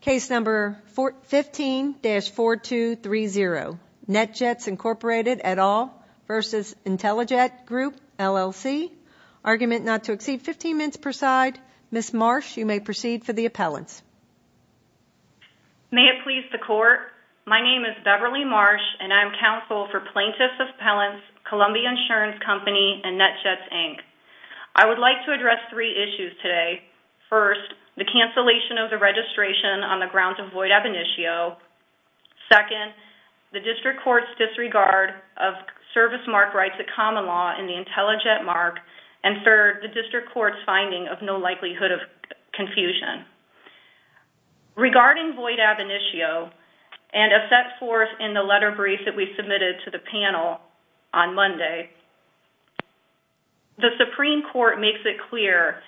Case number 15-4230, NetJets, Inc. et al. v. IntelliJet Group, LLC. Argument not to exceed 15 minutes per side. Ms. Marsh, you may proceed for the appellants. May it please the Court, my name is Beverly Marsh and I am counsel for Plaintiffs' Appellants, Columbia Insurance Company, and NetJets, Inc. I would like to address three issues today. First, the cancellation of the registration on the grounds of void ab initio. Second, the District Court's disregard of service mark rights at common law in the IntelliJet mark. And third, the District Court's finding of no likelihood of confusion. Regarding void ab initio and a set forth in the letter brief that we submitted to the panel on Monday, the Supreme Court makes it clear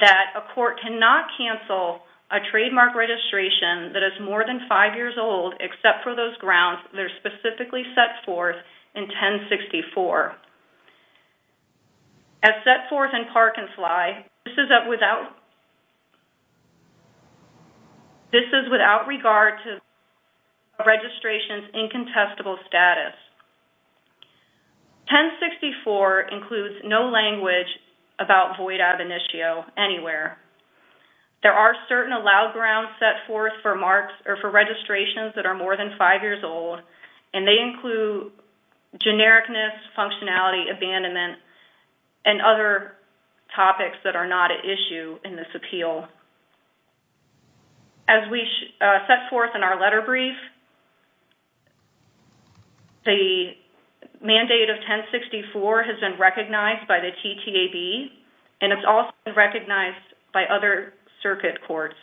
that a court cannot cancel a trademark registration that is more than five years old except for those grounds that are specifically set forth in 1064. As set forth in Park & Sly, this is without regard to the registration's incontestable status. 1064 includes no language about void ab initio anywhere. There are certain allowed grounds set forth for registrations that are more than five years old and they include genericness, functionality, abandonment, and other topics that are not at issue in this appeal. As we set forth in our letter brief, the mandate of 1064 has been recognized by the TTAB and it's also been recognized by other circuit courts.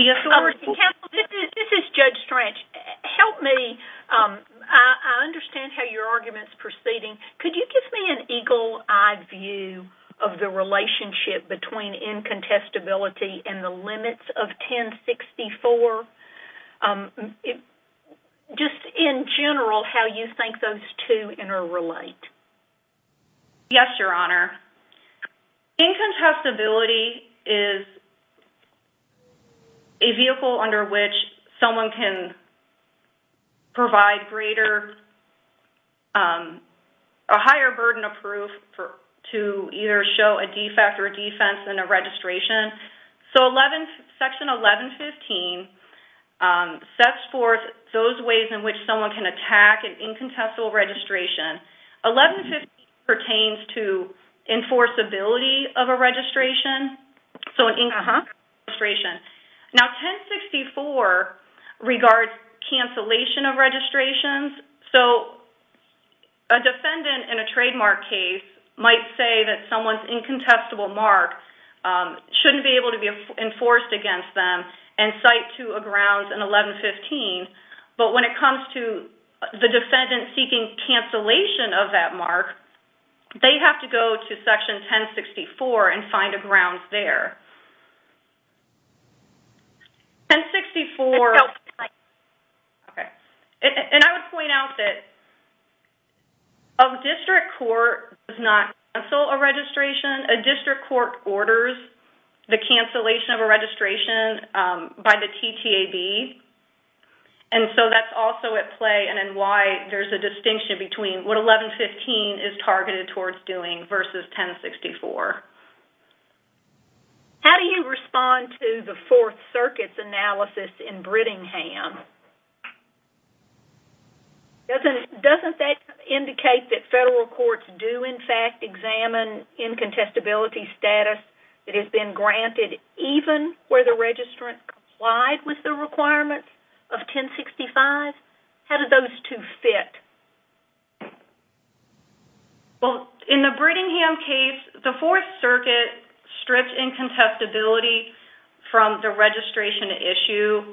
Counsel, this is Judge Strange. Help me. I understand how your argument is proceeding. Could you give me an eagle eye view of the relationship between incontestability and the limits of 1064? Just in general, how you think those two interrelate. Yes, Your Honor. Incontestability is a vehicle under which someone can provide a higher burden of proof to either show a defect or a defense in a registration. Section 1115 sets forth those ways in which someone can attack an incontestable registration. 1115 pertains to enforceability of a registration, so an incontestable registration. 1064 regards cancellation of registrations. A defendant in a trademark case might say that someone's incontestable mark shouldn't be able to be enforced against them and cite to a grounds in 1115. But when it comes to the defendant seeking cancellation of that mark, they have to go to section 1064 and find a grounds there. I would point out that a district court does not cancel a registration. A district court orders the cancellation of a registration by the TTAB. And so that's also at play and why there's a distinction between what 1115 is targeted towards doing versus 1064. How do you respond to the Fourth Circuit's analysis in Brittingham? Doesn't that indicate that federal courts do in fact examine incontestability status that has been granted even where the registrant complied with the requirement of 1065? How do those two fit? Well, in the Brittingham case, the Fourth Circuit stripped incontestability from the registration issue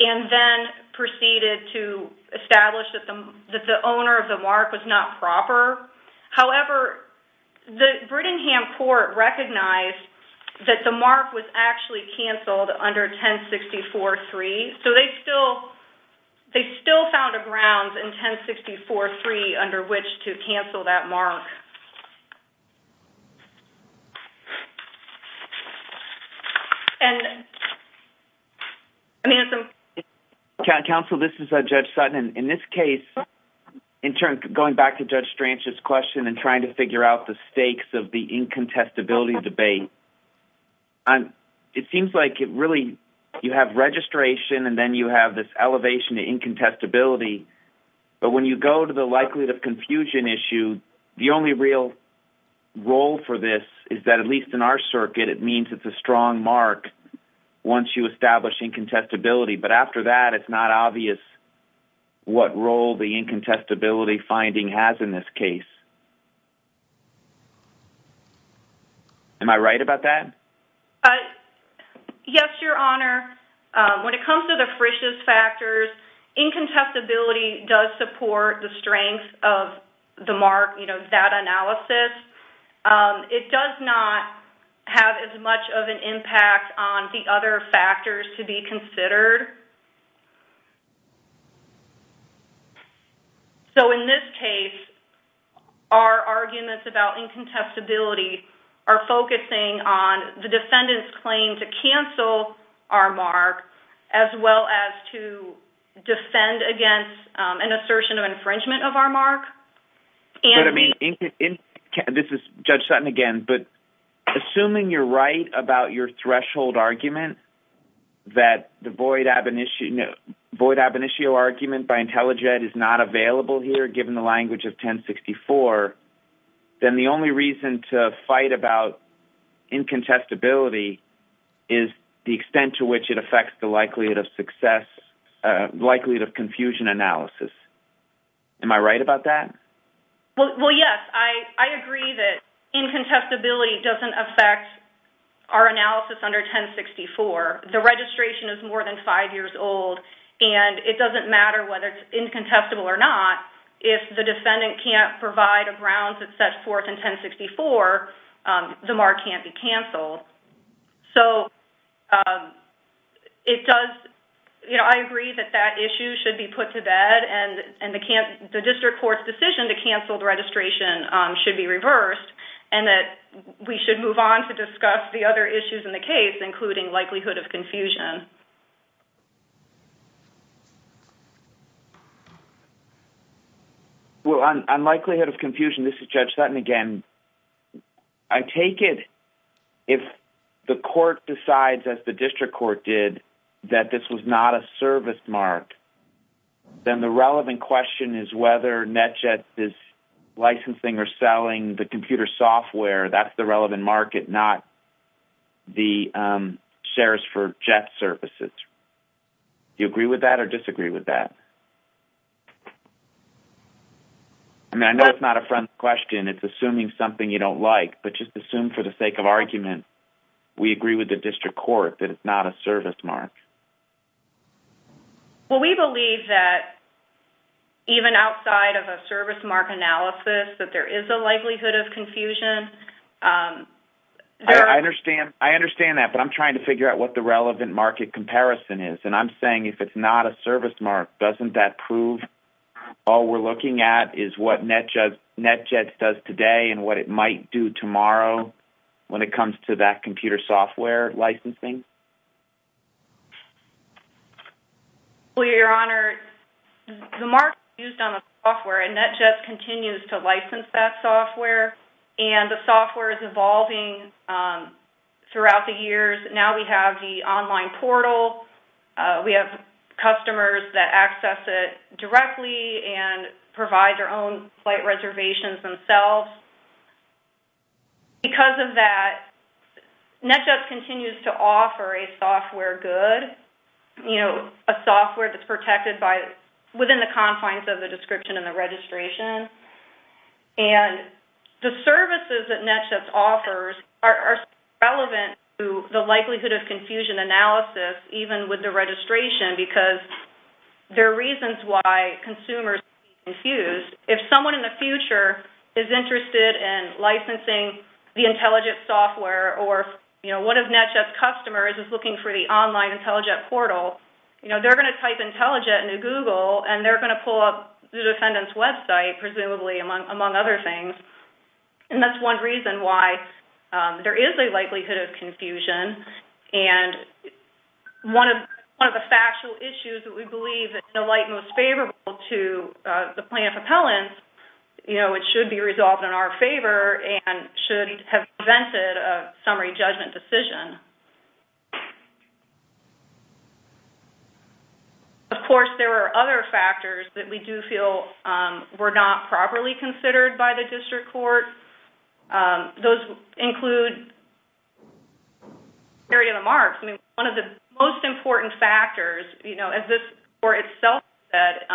and then proceeded to establish that the owner of the mark was not proper. However, the Brittingham court recognized that the mark was actually canceled under 1064.3. So they still found a grounds in 1064.3 under which to cancel that mark. Counsel, this is Judge Sutton. In this case, going back to Judge Stranch's question and trying to figure out the stakes of the incontestability debate, it seems like you have registration and then you have this elevation to incontestability. But when you go to the likelihood of confusion issue, the only real role for this is that at least in our circuit, it means it's a strong mark once you establish incontestability. But after that, it's not obvious what role the incontestability finding has in this case. Am I right about that? Yes, Your Honor. When it comes to the Frisch's factors, incontestability does support the strength of that analysis. It does not have as much of an impact on the other factors to be considered. So in this case, our arguments about incontestability are focusing on the defendant's claim to cancel our mark as well as to defend against an assertion of infringement of our mark. This is Judge Sutton again, but assuming you're right about your threshold argument that the void ab initio argument by IntelliJet is not available here given the language of 1064, then the only reason to fight about incontestability is the extent to which it affects the likelihood of confusion analysis. Am I right about that? Well, yes. I agree that incontestability doesn't affect our analysis under 1064. The registration is more than five years old, and it doesn't matter whether it's incontestable or not. If the defendant can't provide a grounds that's set forth in 1064, the mark can't be canceled. So I agree that that issue should be put to bed and the district court's decision to cancel the registration should be reversed and that we should move on to discuss the other issues in the case, including likelihood of confusion. Well, on likelihood of confusion, this is Judge Sutton again. I take it if the court decides, as the district court did, that this was not a service mark, then the relevant question is whether NetJet is licensing or selling the computer software. That's the relevant market, not the shares for Jet services. Do you agree with that or disagree with that? I mean, I know it's not a friend's question. It's assuming something you don't like, but just assume for the sake of argument, we agree with the district court that it's not a service mark. Well, we believe that even outside of a service mark analysis that there is a likelihood of confusion. I understand that, but I'm trying to figure out what the relevant market comparison is, and I'm saying if it's not a service mark, doesn't that prove all we're looking at is what NetJet does today and what it might do tomorrow when it comes to that computer software licensing? Well, Your Honor, the mark is used on the software, and NetJet continues to license that software, and the software is evolving throughout the years. Now we have the online portal. We have customers that access it directly and provide their own flight reservations themselves. Because of that, NetJet continues to offer a software good, you know, a software that's protected within the confines of the description and the registration, and the services that NetJet offers are relevant to the likelihood of confusion analysis, even with the registration, because there are reasons why consumers can be confused. If someone in the future is interested in licensing the IntelliJet software or one of NetJet's customers is looking for the online IntelliJet portal, they're going to type IntelliJet into Google, and they're going to pull up the defendant's website, presumably, among other things, and that's one reason why there is a likelihood of confusion, and one of the factual issues that we believe is in the light most favorable to the plaintiff appellant, you know, it should be resolved in our favor and should have prevented a summary judgment decision. Of course, there are other factors that we do feel were not properly considered by the district court. Those include the severity of the marks. I mean, one of the most important factors, you know, as this court itself said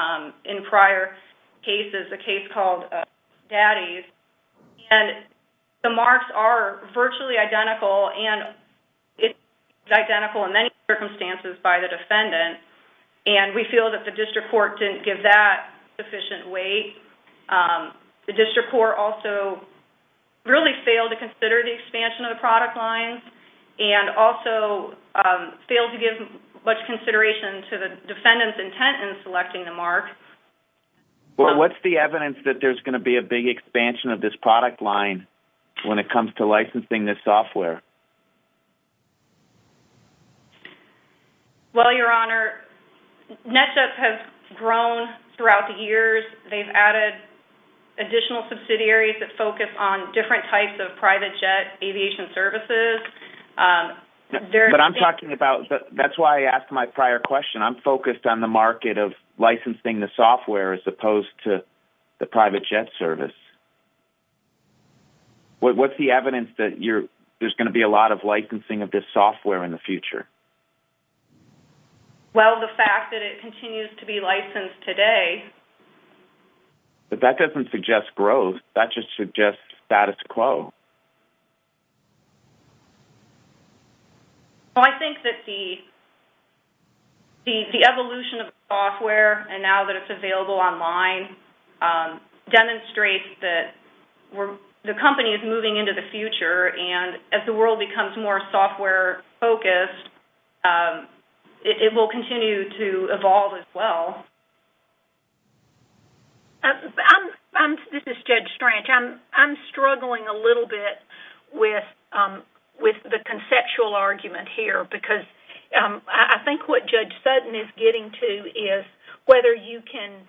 in prior cases, a case called Daddy's, and the marks are virtually identical, and it's identical in many circumstances by the defendant, and we feel that the district court didn't give that sufficient weight. The district court also really failed to consider the expansion of the product line and also failed to give much consideration to the defendant's intent in selecting the mark. Well, what's the evidence that there's going to be a big expansion of this product line when it comes to licensing this software? Well, Your Honor, NetJets has grown throughout the years. They've added additional subsidiaries that focus on different types of private jet aviation services. But I'm talking about, that's why I asked my prior question. I'm focused on the market of licensing the software as opposed to the private jet service. Is there going to be a lot of licensing of this software in the future? Well, the fact that it continues to be licensed today... But that doesn't suggest growth. That just suggests status quo. Well, I think that the evolution of the software, and now that it's available online, demonstrates that the company is moving into the future, and as the world becomes more software-focused, it will continue to evolve as well. This is Judge Strange. I'm struggling a little bit with the conceptual argument here because I think what Judge Sutton is getting to is whether you can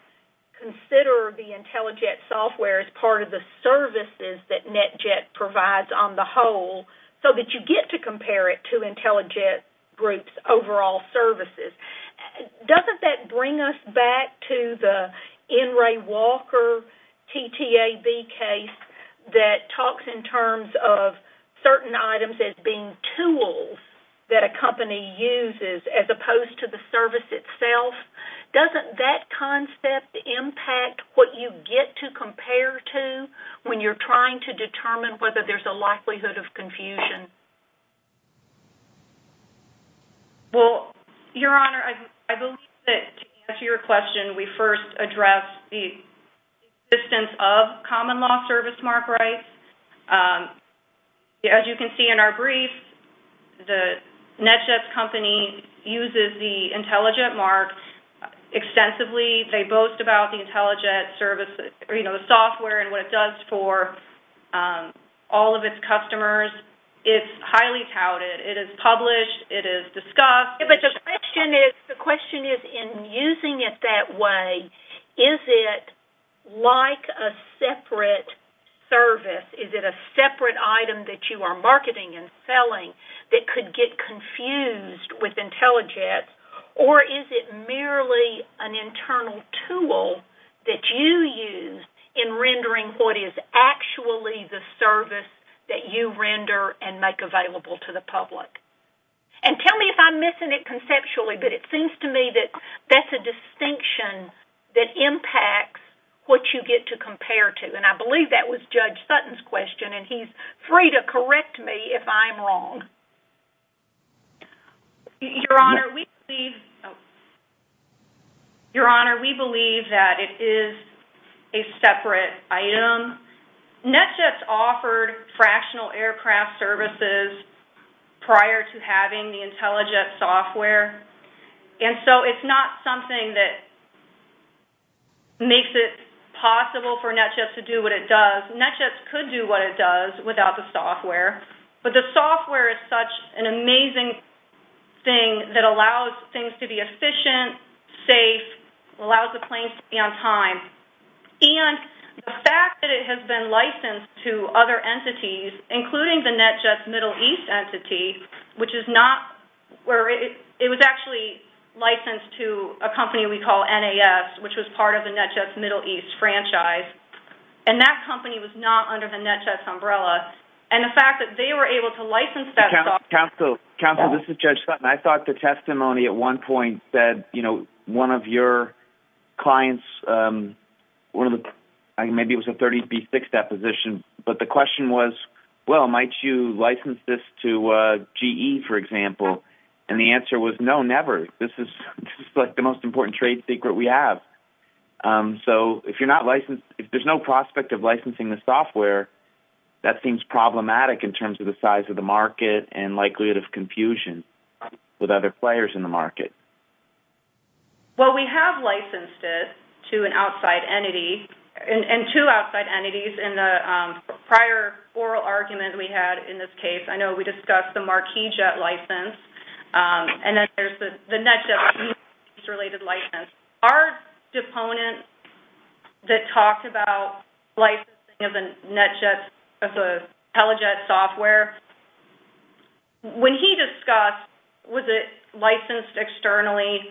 consider the IntelliJet software as part of the services that NetJet provides on the whole so that you get to compare it to IntelliJet Group's overall services. Doesn't that bring us back to the N. Ray Walker TTAB case that talks in terms of certain items as being tools that a company uses as opposed to the service itself? Doesn't that concept impact what you get to compare to when you're trying to determine whether there's a likelihood of confusion? Well, Your Honor, I believe that to answer your question, we first addressed the existence of common law service mark rights. As you can see in our brief, the NetJet company uses the IntelliJet mark extensively. They boast about the IntelliJet software and what it does for all of its customers. It's highly touted. It is published. It is discussed. But the question is, in using it that way, is it like a separate service? Is it a separate item that you are marketing and selling that could get confused with IntelliJet? Or is it merely an internal tool that you use in rendering what is actually the service that you render and make available to the public? And tell me if I'm missing it conceptually, but it seems to me that that's a distinction that impacts what you get to compare to. And I believe that was Judge Sutton's question, and he's free to correct me if I'm wrong. Your Honor, we believe that it is a separate item. NetJet's offered fractional aircraft services prior to having the IntelliJet software, and so it's not something that makes it possible for NetJet to do what it does. NetJet could do what it does without the software, but the software is such an amazing thing that allows things to be efficient, safe, allows the planes to be on time. And the fact that it has been licensed to other entities, including the NetJet Middle East entity, which is not where it was actually licensed to a company we call NAS, which was part of the NetJet Middle East franchise, and that company was not under the NetJet's umbrella, and the fact that they were able to license that software... Counsel, this is Judge Sutton. I thought the testimony at one point said, you know, one of your clients, maybe it was a 30B6 deposition, but the question was, well, might you license this to GE, for example? And the answer was, no, never. This is, like, the most important trade secret we have. So if you're not licensed, if there's no prospect of licensing the software, that seems problematic in terms of the size of the market and likelihood of confusion with other players in the market. Well, we have licensed it to an outside entity, and two outside entities in the prior oral argument we had in this case. I know we discussed the Marquis Jet license, and then there's the NetJet Middle East related license. Our deponent that talked about licensing of the NetJet, of the TeleJet software, when he discussed was it licensed externally,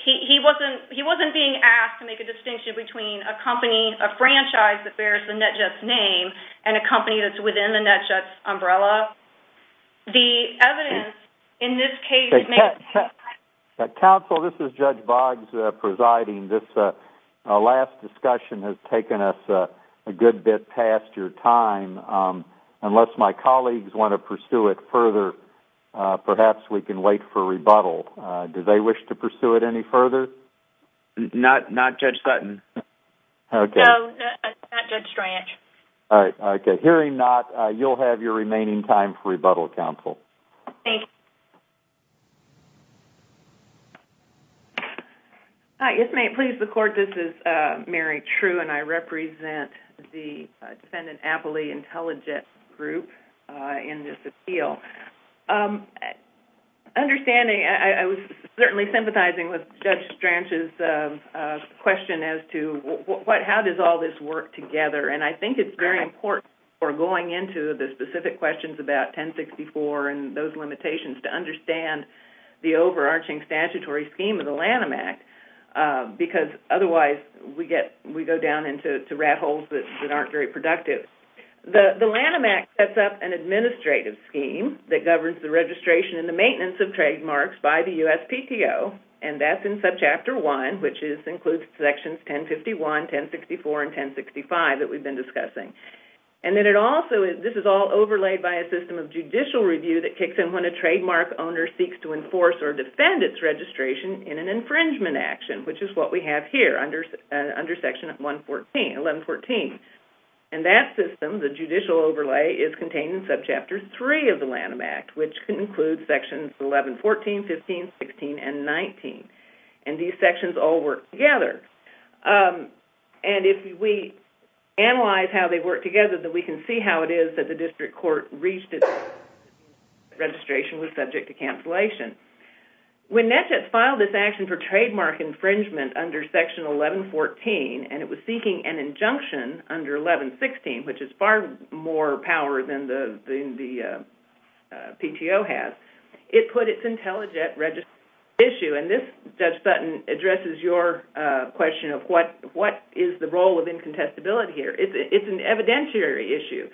he wasn't being asked to make a distinction between a company, a franchise that bears the NetJet's name, and a company that's within the NetJet's umbrella. The evidence in this case... Counsel, this is Judge Boggs presiding. This last discussion has taken us a good bit past your time. Unless my colleagues want to pursue it further, perhaps we can wait for rebuttal. Do they wish to pursue it any further? Not Judge Sutton. No, not Judge Stranch. All right, okay. If you're agreeing not, you'll have your remaining time for rebuttal, Counsel. Thank you. Hi, if it may please the Court, this is Mary True, and I represent the defendant Appley Intelligence Group in this appeal. Understanding, I was certainly sympathizing with Judge Stranch's question as to how does all this work together, and I think it's very important for going into the specific questions about 1064 and those limitations to understand the overarching statutory scheme of the Lanham Act, because otherwise we go down into rat holes that aren't very productive. The Lanham Act sets up an administrative scheme that governs the registration and the maintenance of trademarks by the USPTO, and that's in Subchapter 1, which includes Sections 1051, 1064, and 1065 that we've been discussing. This is all overlaid by a system of judicial review that kicks in when a trademark owner seeks to enforce or defend its registration in an infringement action, which is what we have here under Section 1114. That system, the judicial overlay, is contained in Subchapter 3 of the Lanham Act, which includes Sections 1114, 15, 16, and 19. These sections all work together. If we analyze how they work together, we can see how it is that the district court reached its decision that registration was subject to cancellation. When NETJETS filed this action for trademark infringement under Section 1114, and it was seeking an injunction under 1116, which is far more power than the PTO has, it put its IntelliJET registration issue, and this, Judge Sutton, addresses your question of what is the role of incontestability here. It's an evidentiary issue.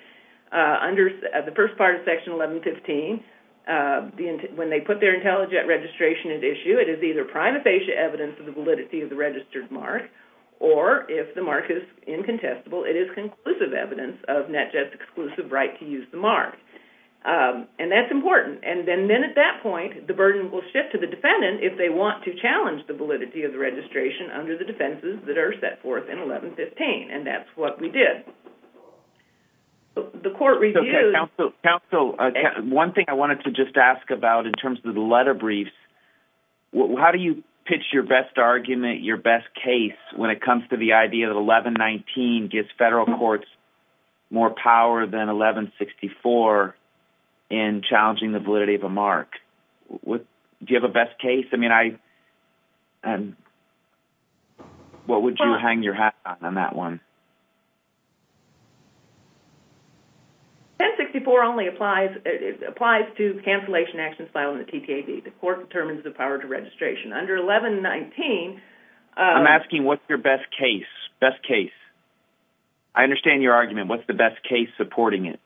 Under the first part of Section 1115, when they put their IntelliJET registration at issue, it is either prima facie evidence of the validity of the registered mark, or if the mark is incontestable, it is conclusive evidence of NETJETS' exclusive right to use the mark. And that's important. And then at that point, the burden will shift to the defendant if they want to challenge the validity of the registration under the defenses that are set forth in 1115. And that's what we did. The court reviewed... Counsel, one thing I wanted to just ask about in terms of the letter briefs, how do you pitch your best argument, your best case, when it comes to the idea that 1119 gives federal courts more power than 1164 in challenging the validity of a mark? Do you have a best case? What would you hang your hat on on that one? 1064 only applies to cancellation actions filed in the TTAB. The court determines the power to registration. Under 1119... I'm asking what's your best case. Best case. I understand your argument. What's the best case supporting it?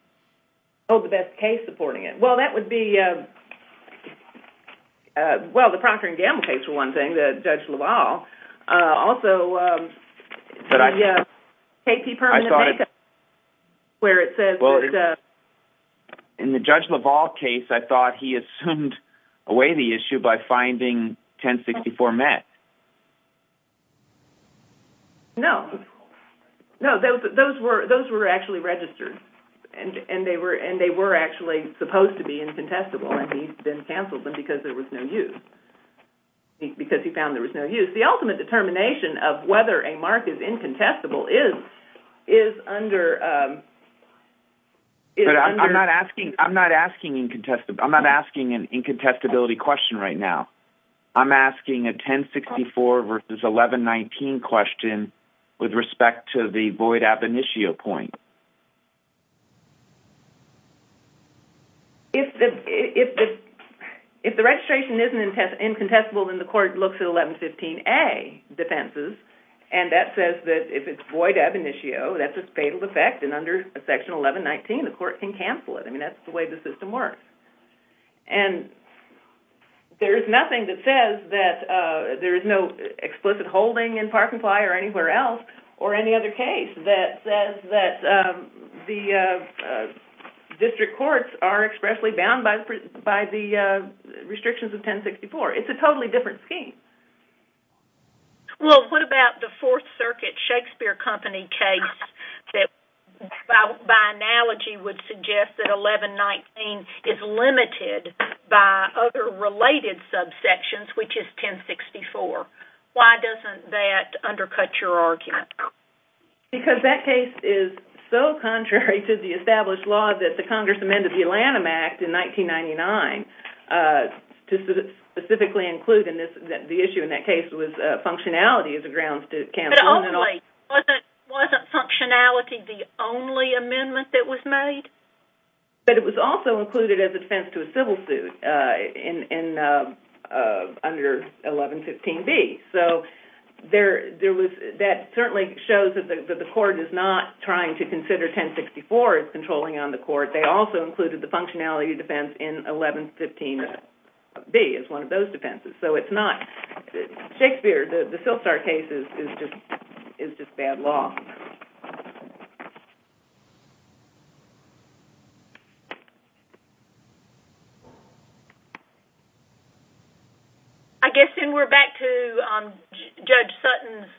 Oh, the best case supporting it. Well, that would be... Well, the Procker and Gamble case was one thing, the Judge LaValle. Also, the KP Permanent Makeup where it says... In the Judge LaValle case, I thought he assumed away the issue by finding 1064 met. No. No, those were actually registered. And they were actually supposed to be incontestable, and he then canceled them because there was no use. Because he found there was no use. The ultimate determination of whether a mark is incontestable is under... I'm not asking an incontestability question right now. I'm asking a 1064 versus 1119 question with respect to the void ab initio point. If the registration isn't incontestable, then the court looks at 1115A defenses, and that says that if it's void ab initio, that's a fatal effect, and under section 1119, the court can cancel it. I mean, that's the way the system works. And there is nothing that says that... There is no explicit holding in Park and Ply or anywhere else or any other case that says that the district courts are expressly bound by the restrictions of 1064. It's a totally different scheme. Well, what about the Fourth Circuit Shakespeare Company case that, by analogy, would suggest that 1119 is limited by other related subsections, which is 1064? Why doesn't that undercut your argument? Because that case is so contrary to the established law that the Congress amended the Atlanta Act in 1999 to specifically include in the issue in that case was functionality as a grounds to cancel. But ultimately, wasn't functionality the only amendment that was made? But it was also included as a defense to a civil suit under 1115B. So that certainly shows that the court is not trying to consider 1064 as controlling on the court. They also included the functionality defense in 1115B as one of those defenses. So it's not... Shakespeare, the Sylstar case, is just bad law. I guess then we're back to Judge Sutton's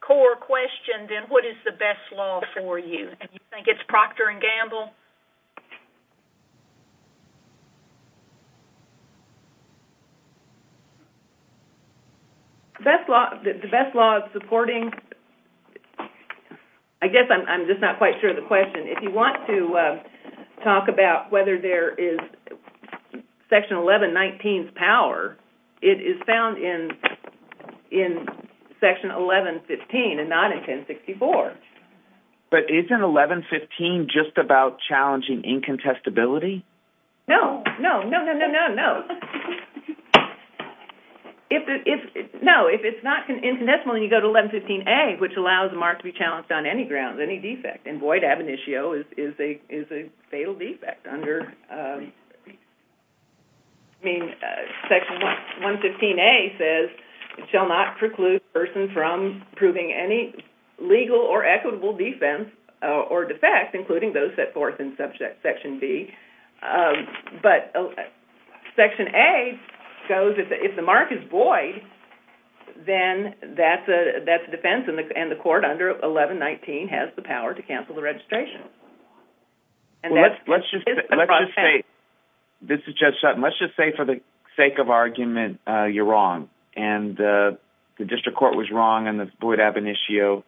core question, then, what is the best law for you? Do you think it's Procter and Gamble? The best law is supporting... The best law is supporting... I guess I'm just not quite sure of the question. If you want to talk about whether there is Section 1119's power, it is found in Section 1115 and not in 1064. But isn't 1115 just about challenging incontestability? No, no, no, no, no, no, no. No, if it's not incontestable and you go to 1115A, which allows a mark to be challenged on any grounds, any defect, and void ab initio is a fatal defect under... I mean, Section 115A says, it shall not preclude a person from proving any legal or equitable defense or defect, including those set forth in Section B. But Section A goes, if the mark is void, then that's a defense, and the court under 1119 has the power to cancel the registration. Well, let's just say... This is Judge Sutton. Let's just say, for the sake of argument, you're wrong. And the district court was wrong on the void ab initio.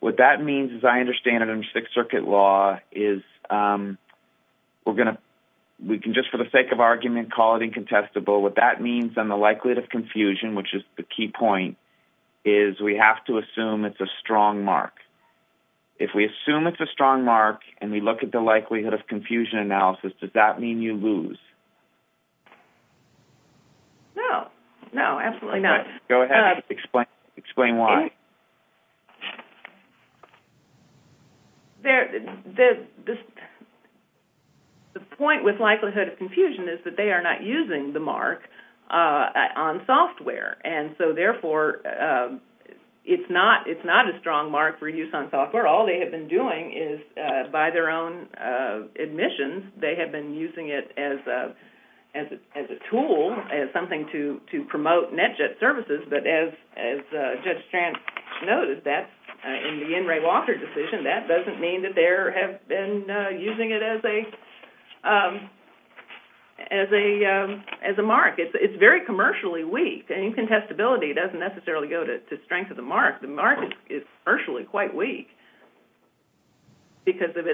What that means, as I understand it, under Sixth Circuit law, is we're going to... We can just, for the sake of argument, call it incontestable. What that means on the likelihood of confusion, which is the key point, is we have to assume it's a strong mark. If we assume it's a strong mark and we look at the likelihood of confusion analysis, does that mean you lose? No. No, absolutely not. Go ahead. Explain why. The point with likelihood of confusion is that they are not using the mark on software. And so, therefore, it's not a strong mark for use on software. All they have been doing is, by their own admissions, they have been using it as a tool, as something to promote NetJet services. But as Judge Strand noted, in the N. Ray Walker decision, that doesn't mean that they have been using it as a mark. It's very commercially weak. And incontestability doesn't necessarily go to strength of the mark. The mark is partially quite weak because of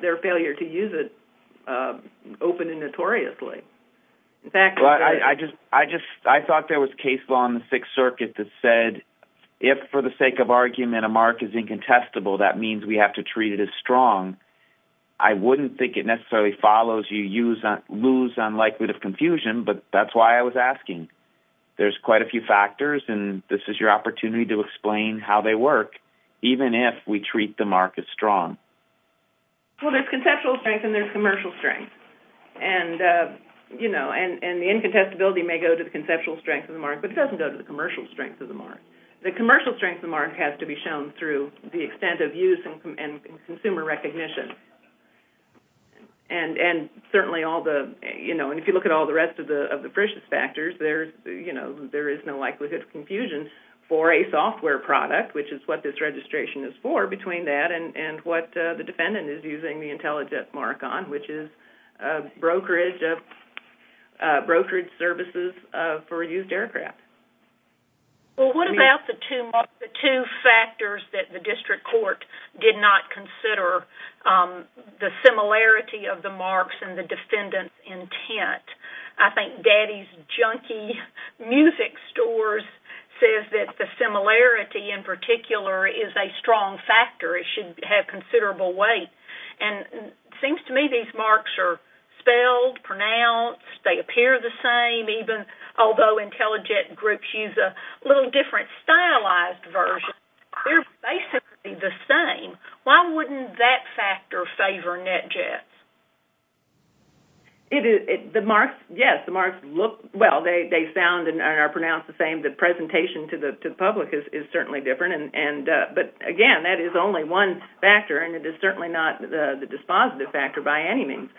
their failure to use it openly and notoriously. In fact... I thought there was case law in the Sixth Circuit that said if, for the sake of argument, a mark is incontestable, that means we have to treat it as strong. I wouldn't think it necessarily follows you lose on likelihood of confusion, but that's why I was asking. There's quite a few factors, and this is your opportunity to explain how they work, even if we treat the mark as strong. Well, there's conceptual strength and there's commercial strength. And the incontestability may go to the conceptual strength of the mark, but it doesn't go to the commercial strength of the mark. The commercial strength of the mark has to be shown through the extent of use and consumer recognition. And certainly all the... And if you look at all the rest of the precious factors, there is no likelihood of confusion for a software product, which is what this registration is for, between that and what the defendant is using the intelligent mark on, which is brokerage services for used aircraft. Well, what about the two factors that the district court did not consider? The similarity of the marks and the defendant's intent. I think Daddy's Junkie Music Stores says that the similarity, in particular, is a strong factor. It should have considerable weight. And it seems to me these marks are spelled, pronounced. They appear the same, even although intelligent groups use a little different stylized version. They're basically the same. Why wouldn't that factor favor NetJets? Yes, the marks look... Well, they sound and are pronounced the same. The presentation to the public is certainly different. But again, that is only one factor, and it is certainly not the dispositive factor by any means.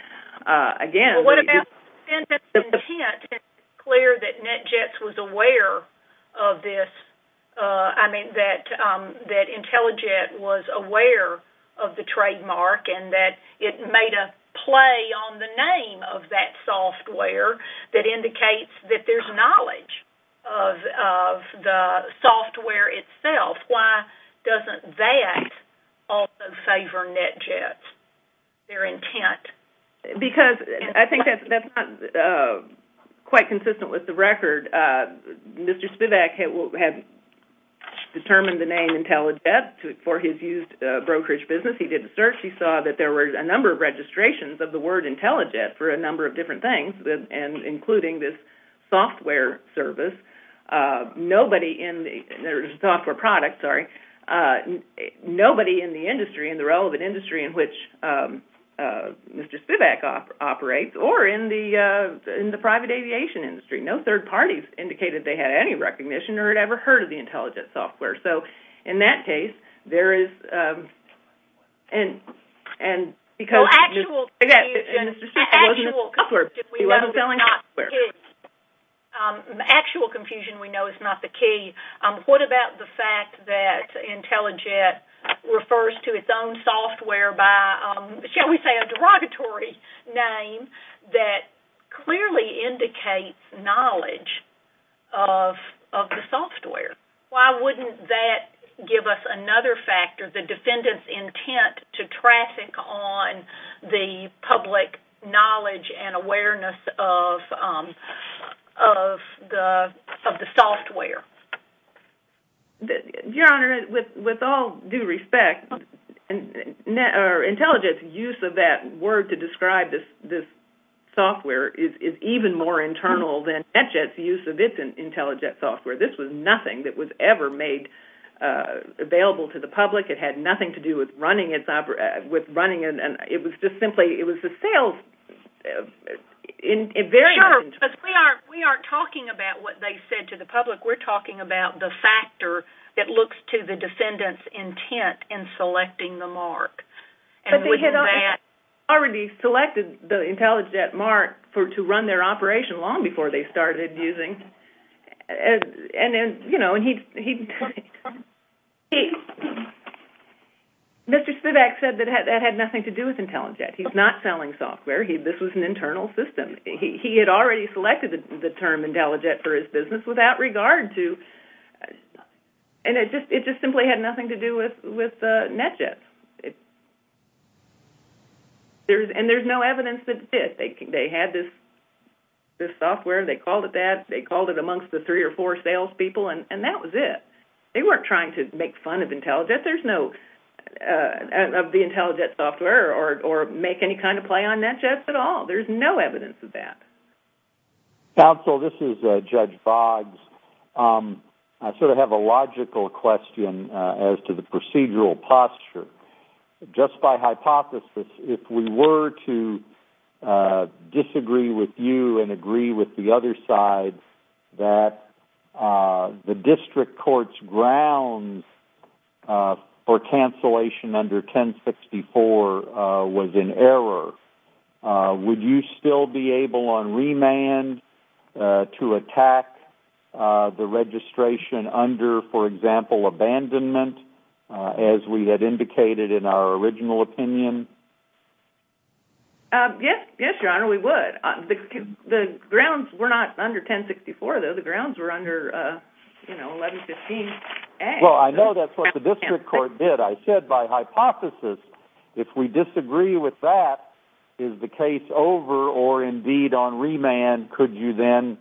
Well, what about the defendant's intent? Is it clear that NetJets was aware of this? I mean, that IntelliJet was aware of the trademark and that it made a play on the name of that software that indicates that there's knowledge of the software itself. Why doesn't that also favor NetJets, their intent? Because I think that's not quite consistent with the record. Mr. Spivak had determined the name IntelliJet for his used brokerage business. He did a search. He saw that there were a number of registrations of the word IntelliJet for a number of different things, including this software service. Nobody in the industry, in the relevant industry in which Mr. Spivak operates, or in the private aviation industry. No third parties indicated they had any recognition or had ever heard of the IntelliJet software. So in that case, there is... Well, actual confusion. Mr. Spivak wasn't selling the software. He wasn't selling the software. Actual confusion we know is not the key. What about the fact that IntelliJet refers to its own software by, shall we say, a derogatory name that clearly indicates knowledge of the software? Why wouldn't that give us another factor, the defendant's intent to traffic on the public knowledge and awareness of the software? Your Honor, with all due respect, IntelliJet's use of that word to describe this software is even more internal than NetJet's use of its IntelliJet software. This was nothing that was ever made available to the public. It had nothing to do with running... It was just simply... It was a sales... Sure, but we aren't talking about what they said to the public. We're talking about the factor that looks to the defendant's intent in selecting the mark. But they had already selected the IntelliJet mark to run their operation long before they started using... Mr. Spivak said that that had nothing to do with IntelliJet. He's not selling software. This was an internal system. He had already selected the term IntelliJet for his business without regard to... And it just simply had nothing to do with NetJet. And there's no evidence that it did. They had this software. They called it that. They called it amongst the three or four salespeople, and that was it. They weren't trying to make fun of IntelliJet. There's no... of the IntelliJet software or make any kind of play on NetJet at all. There's no evidence of that. Counsel, this is Judge Boggs. I sort of have a logical question as to the procedural posture. Just by hypothesis, if we were to disagree with you and agree with the other side that the district court's grounds for cancellation under 1064 was in error, would you still be able on remand to attack the registration under, for example, abandonment as we had indicated in our original opinion? Yes, Your Honor, we would. The grounds were not under 1064, though. The grounds were under, you know, 1115A. Well, I know that's what the district court did. I said by hypothesis, if we disagree with that, is the case over or indeed on remand? Could you then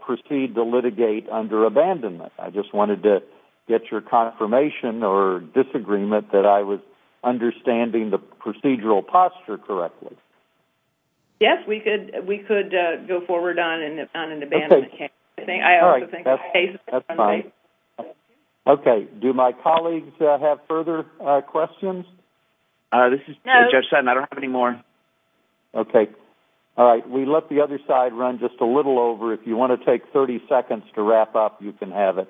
proceed to litigate under abandonment? I just wanted to get your confirmation or disagreement that I was understanding the procedural posture correctly. Yes, we could go forward on an abandonment case. I also think the case... That's fine. Okay. Do my colleagues have further questions? This is Judge Sutton. I don't have any more. Okay. All right, we let the other side run just a little over. If you want to take 30 seconds to wrap up, you can have it.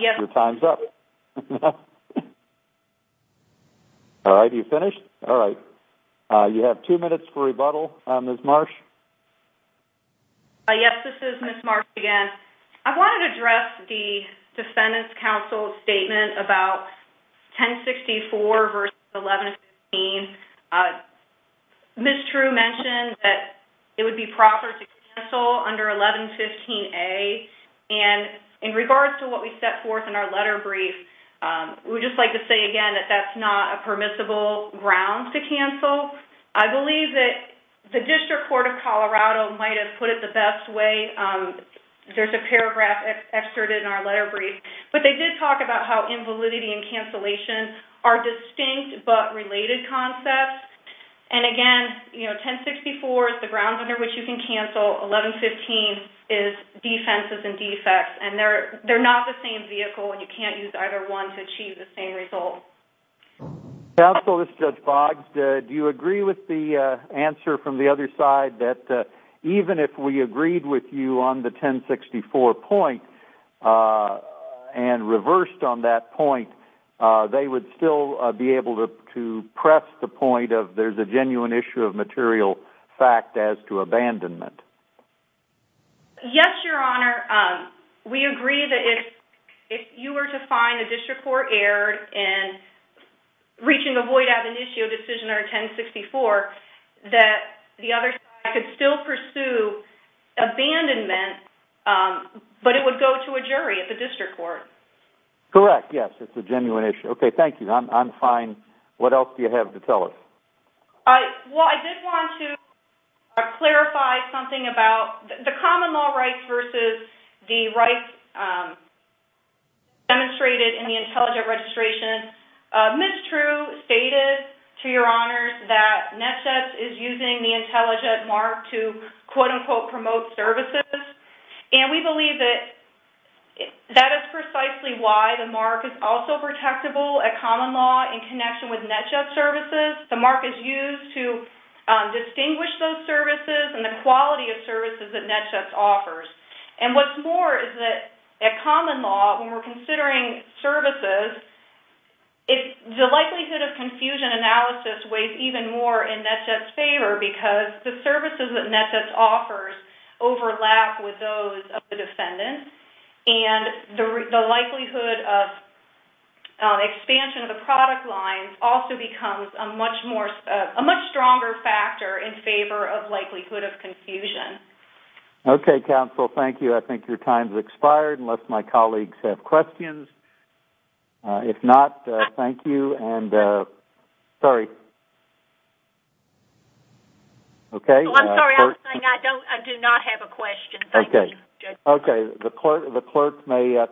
Your time's up. All right, are you finished? All right. You have two minutes for rebuttal, Ms. Marsh. Yes, this is Ms. Marsh again. I wanted to address the defendant's counsel statement about 1064 v. 1115. Ms. True mentioned that it would be proper to cancel under 1115A, and in regards to what we set forth in our letter brief, we would just like to say again that that's not a permissible ground to cancel. I believe that the District Court of Colorado might have put it the best way. There's a paragraph excerpted in our letter brief, but they did talk about how invalidity and cancellation are distinct but related concepts, and again, 1064 is the grounds under which you can cancel. 1115 is defenses and defects, and they're not the same vehicle, and you can't use either one to achieve the same result. Counsel, this is Judge Boggs. Do you agree with the answer from the other side that even if we agreed with you on the 1064 point and reversed on that point, they would still be able to press the point of there's a genuine issue of material fact as to abandonment? Yes, Your Honor. We agree that if you were to find the District Court erred in reaching a void at an issue decision under 1064, that the other side could still pursue abandonment, but it would go to a jury at the District Court. Correct, yes. It's a genuine issue. Okay, thank you. I'm fine. What else do you have to tell us? Well, I did want to clarify something about the common law rights versus the rights demonstrated in the intelligent registration. Ms. True stated, to Your Honors, that NHS is using the intelligent mark to quote-unquote promote services, and we believe that that is precisely why the mark is also protectable at common law in connection with NHS services. The mark is used to distinguish those services and the quality of services that NHS offers. And what's more is that at common law, when we're considering services, the likelihood of confusion analysis weighs even more in NHS's favor because the services that NHS offers overlap with those of the defendant, and the likelihood of expansion of the product line also becomes a much stronger factor in favor of likelihood of confusion. Okay, counsel, thank you. I think your time has expired, unless my colleagues have questions. If not, thank you. Sorry. I'm sorry, I was saying I do not have a question. Thank you, Judge.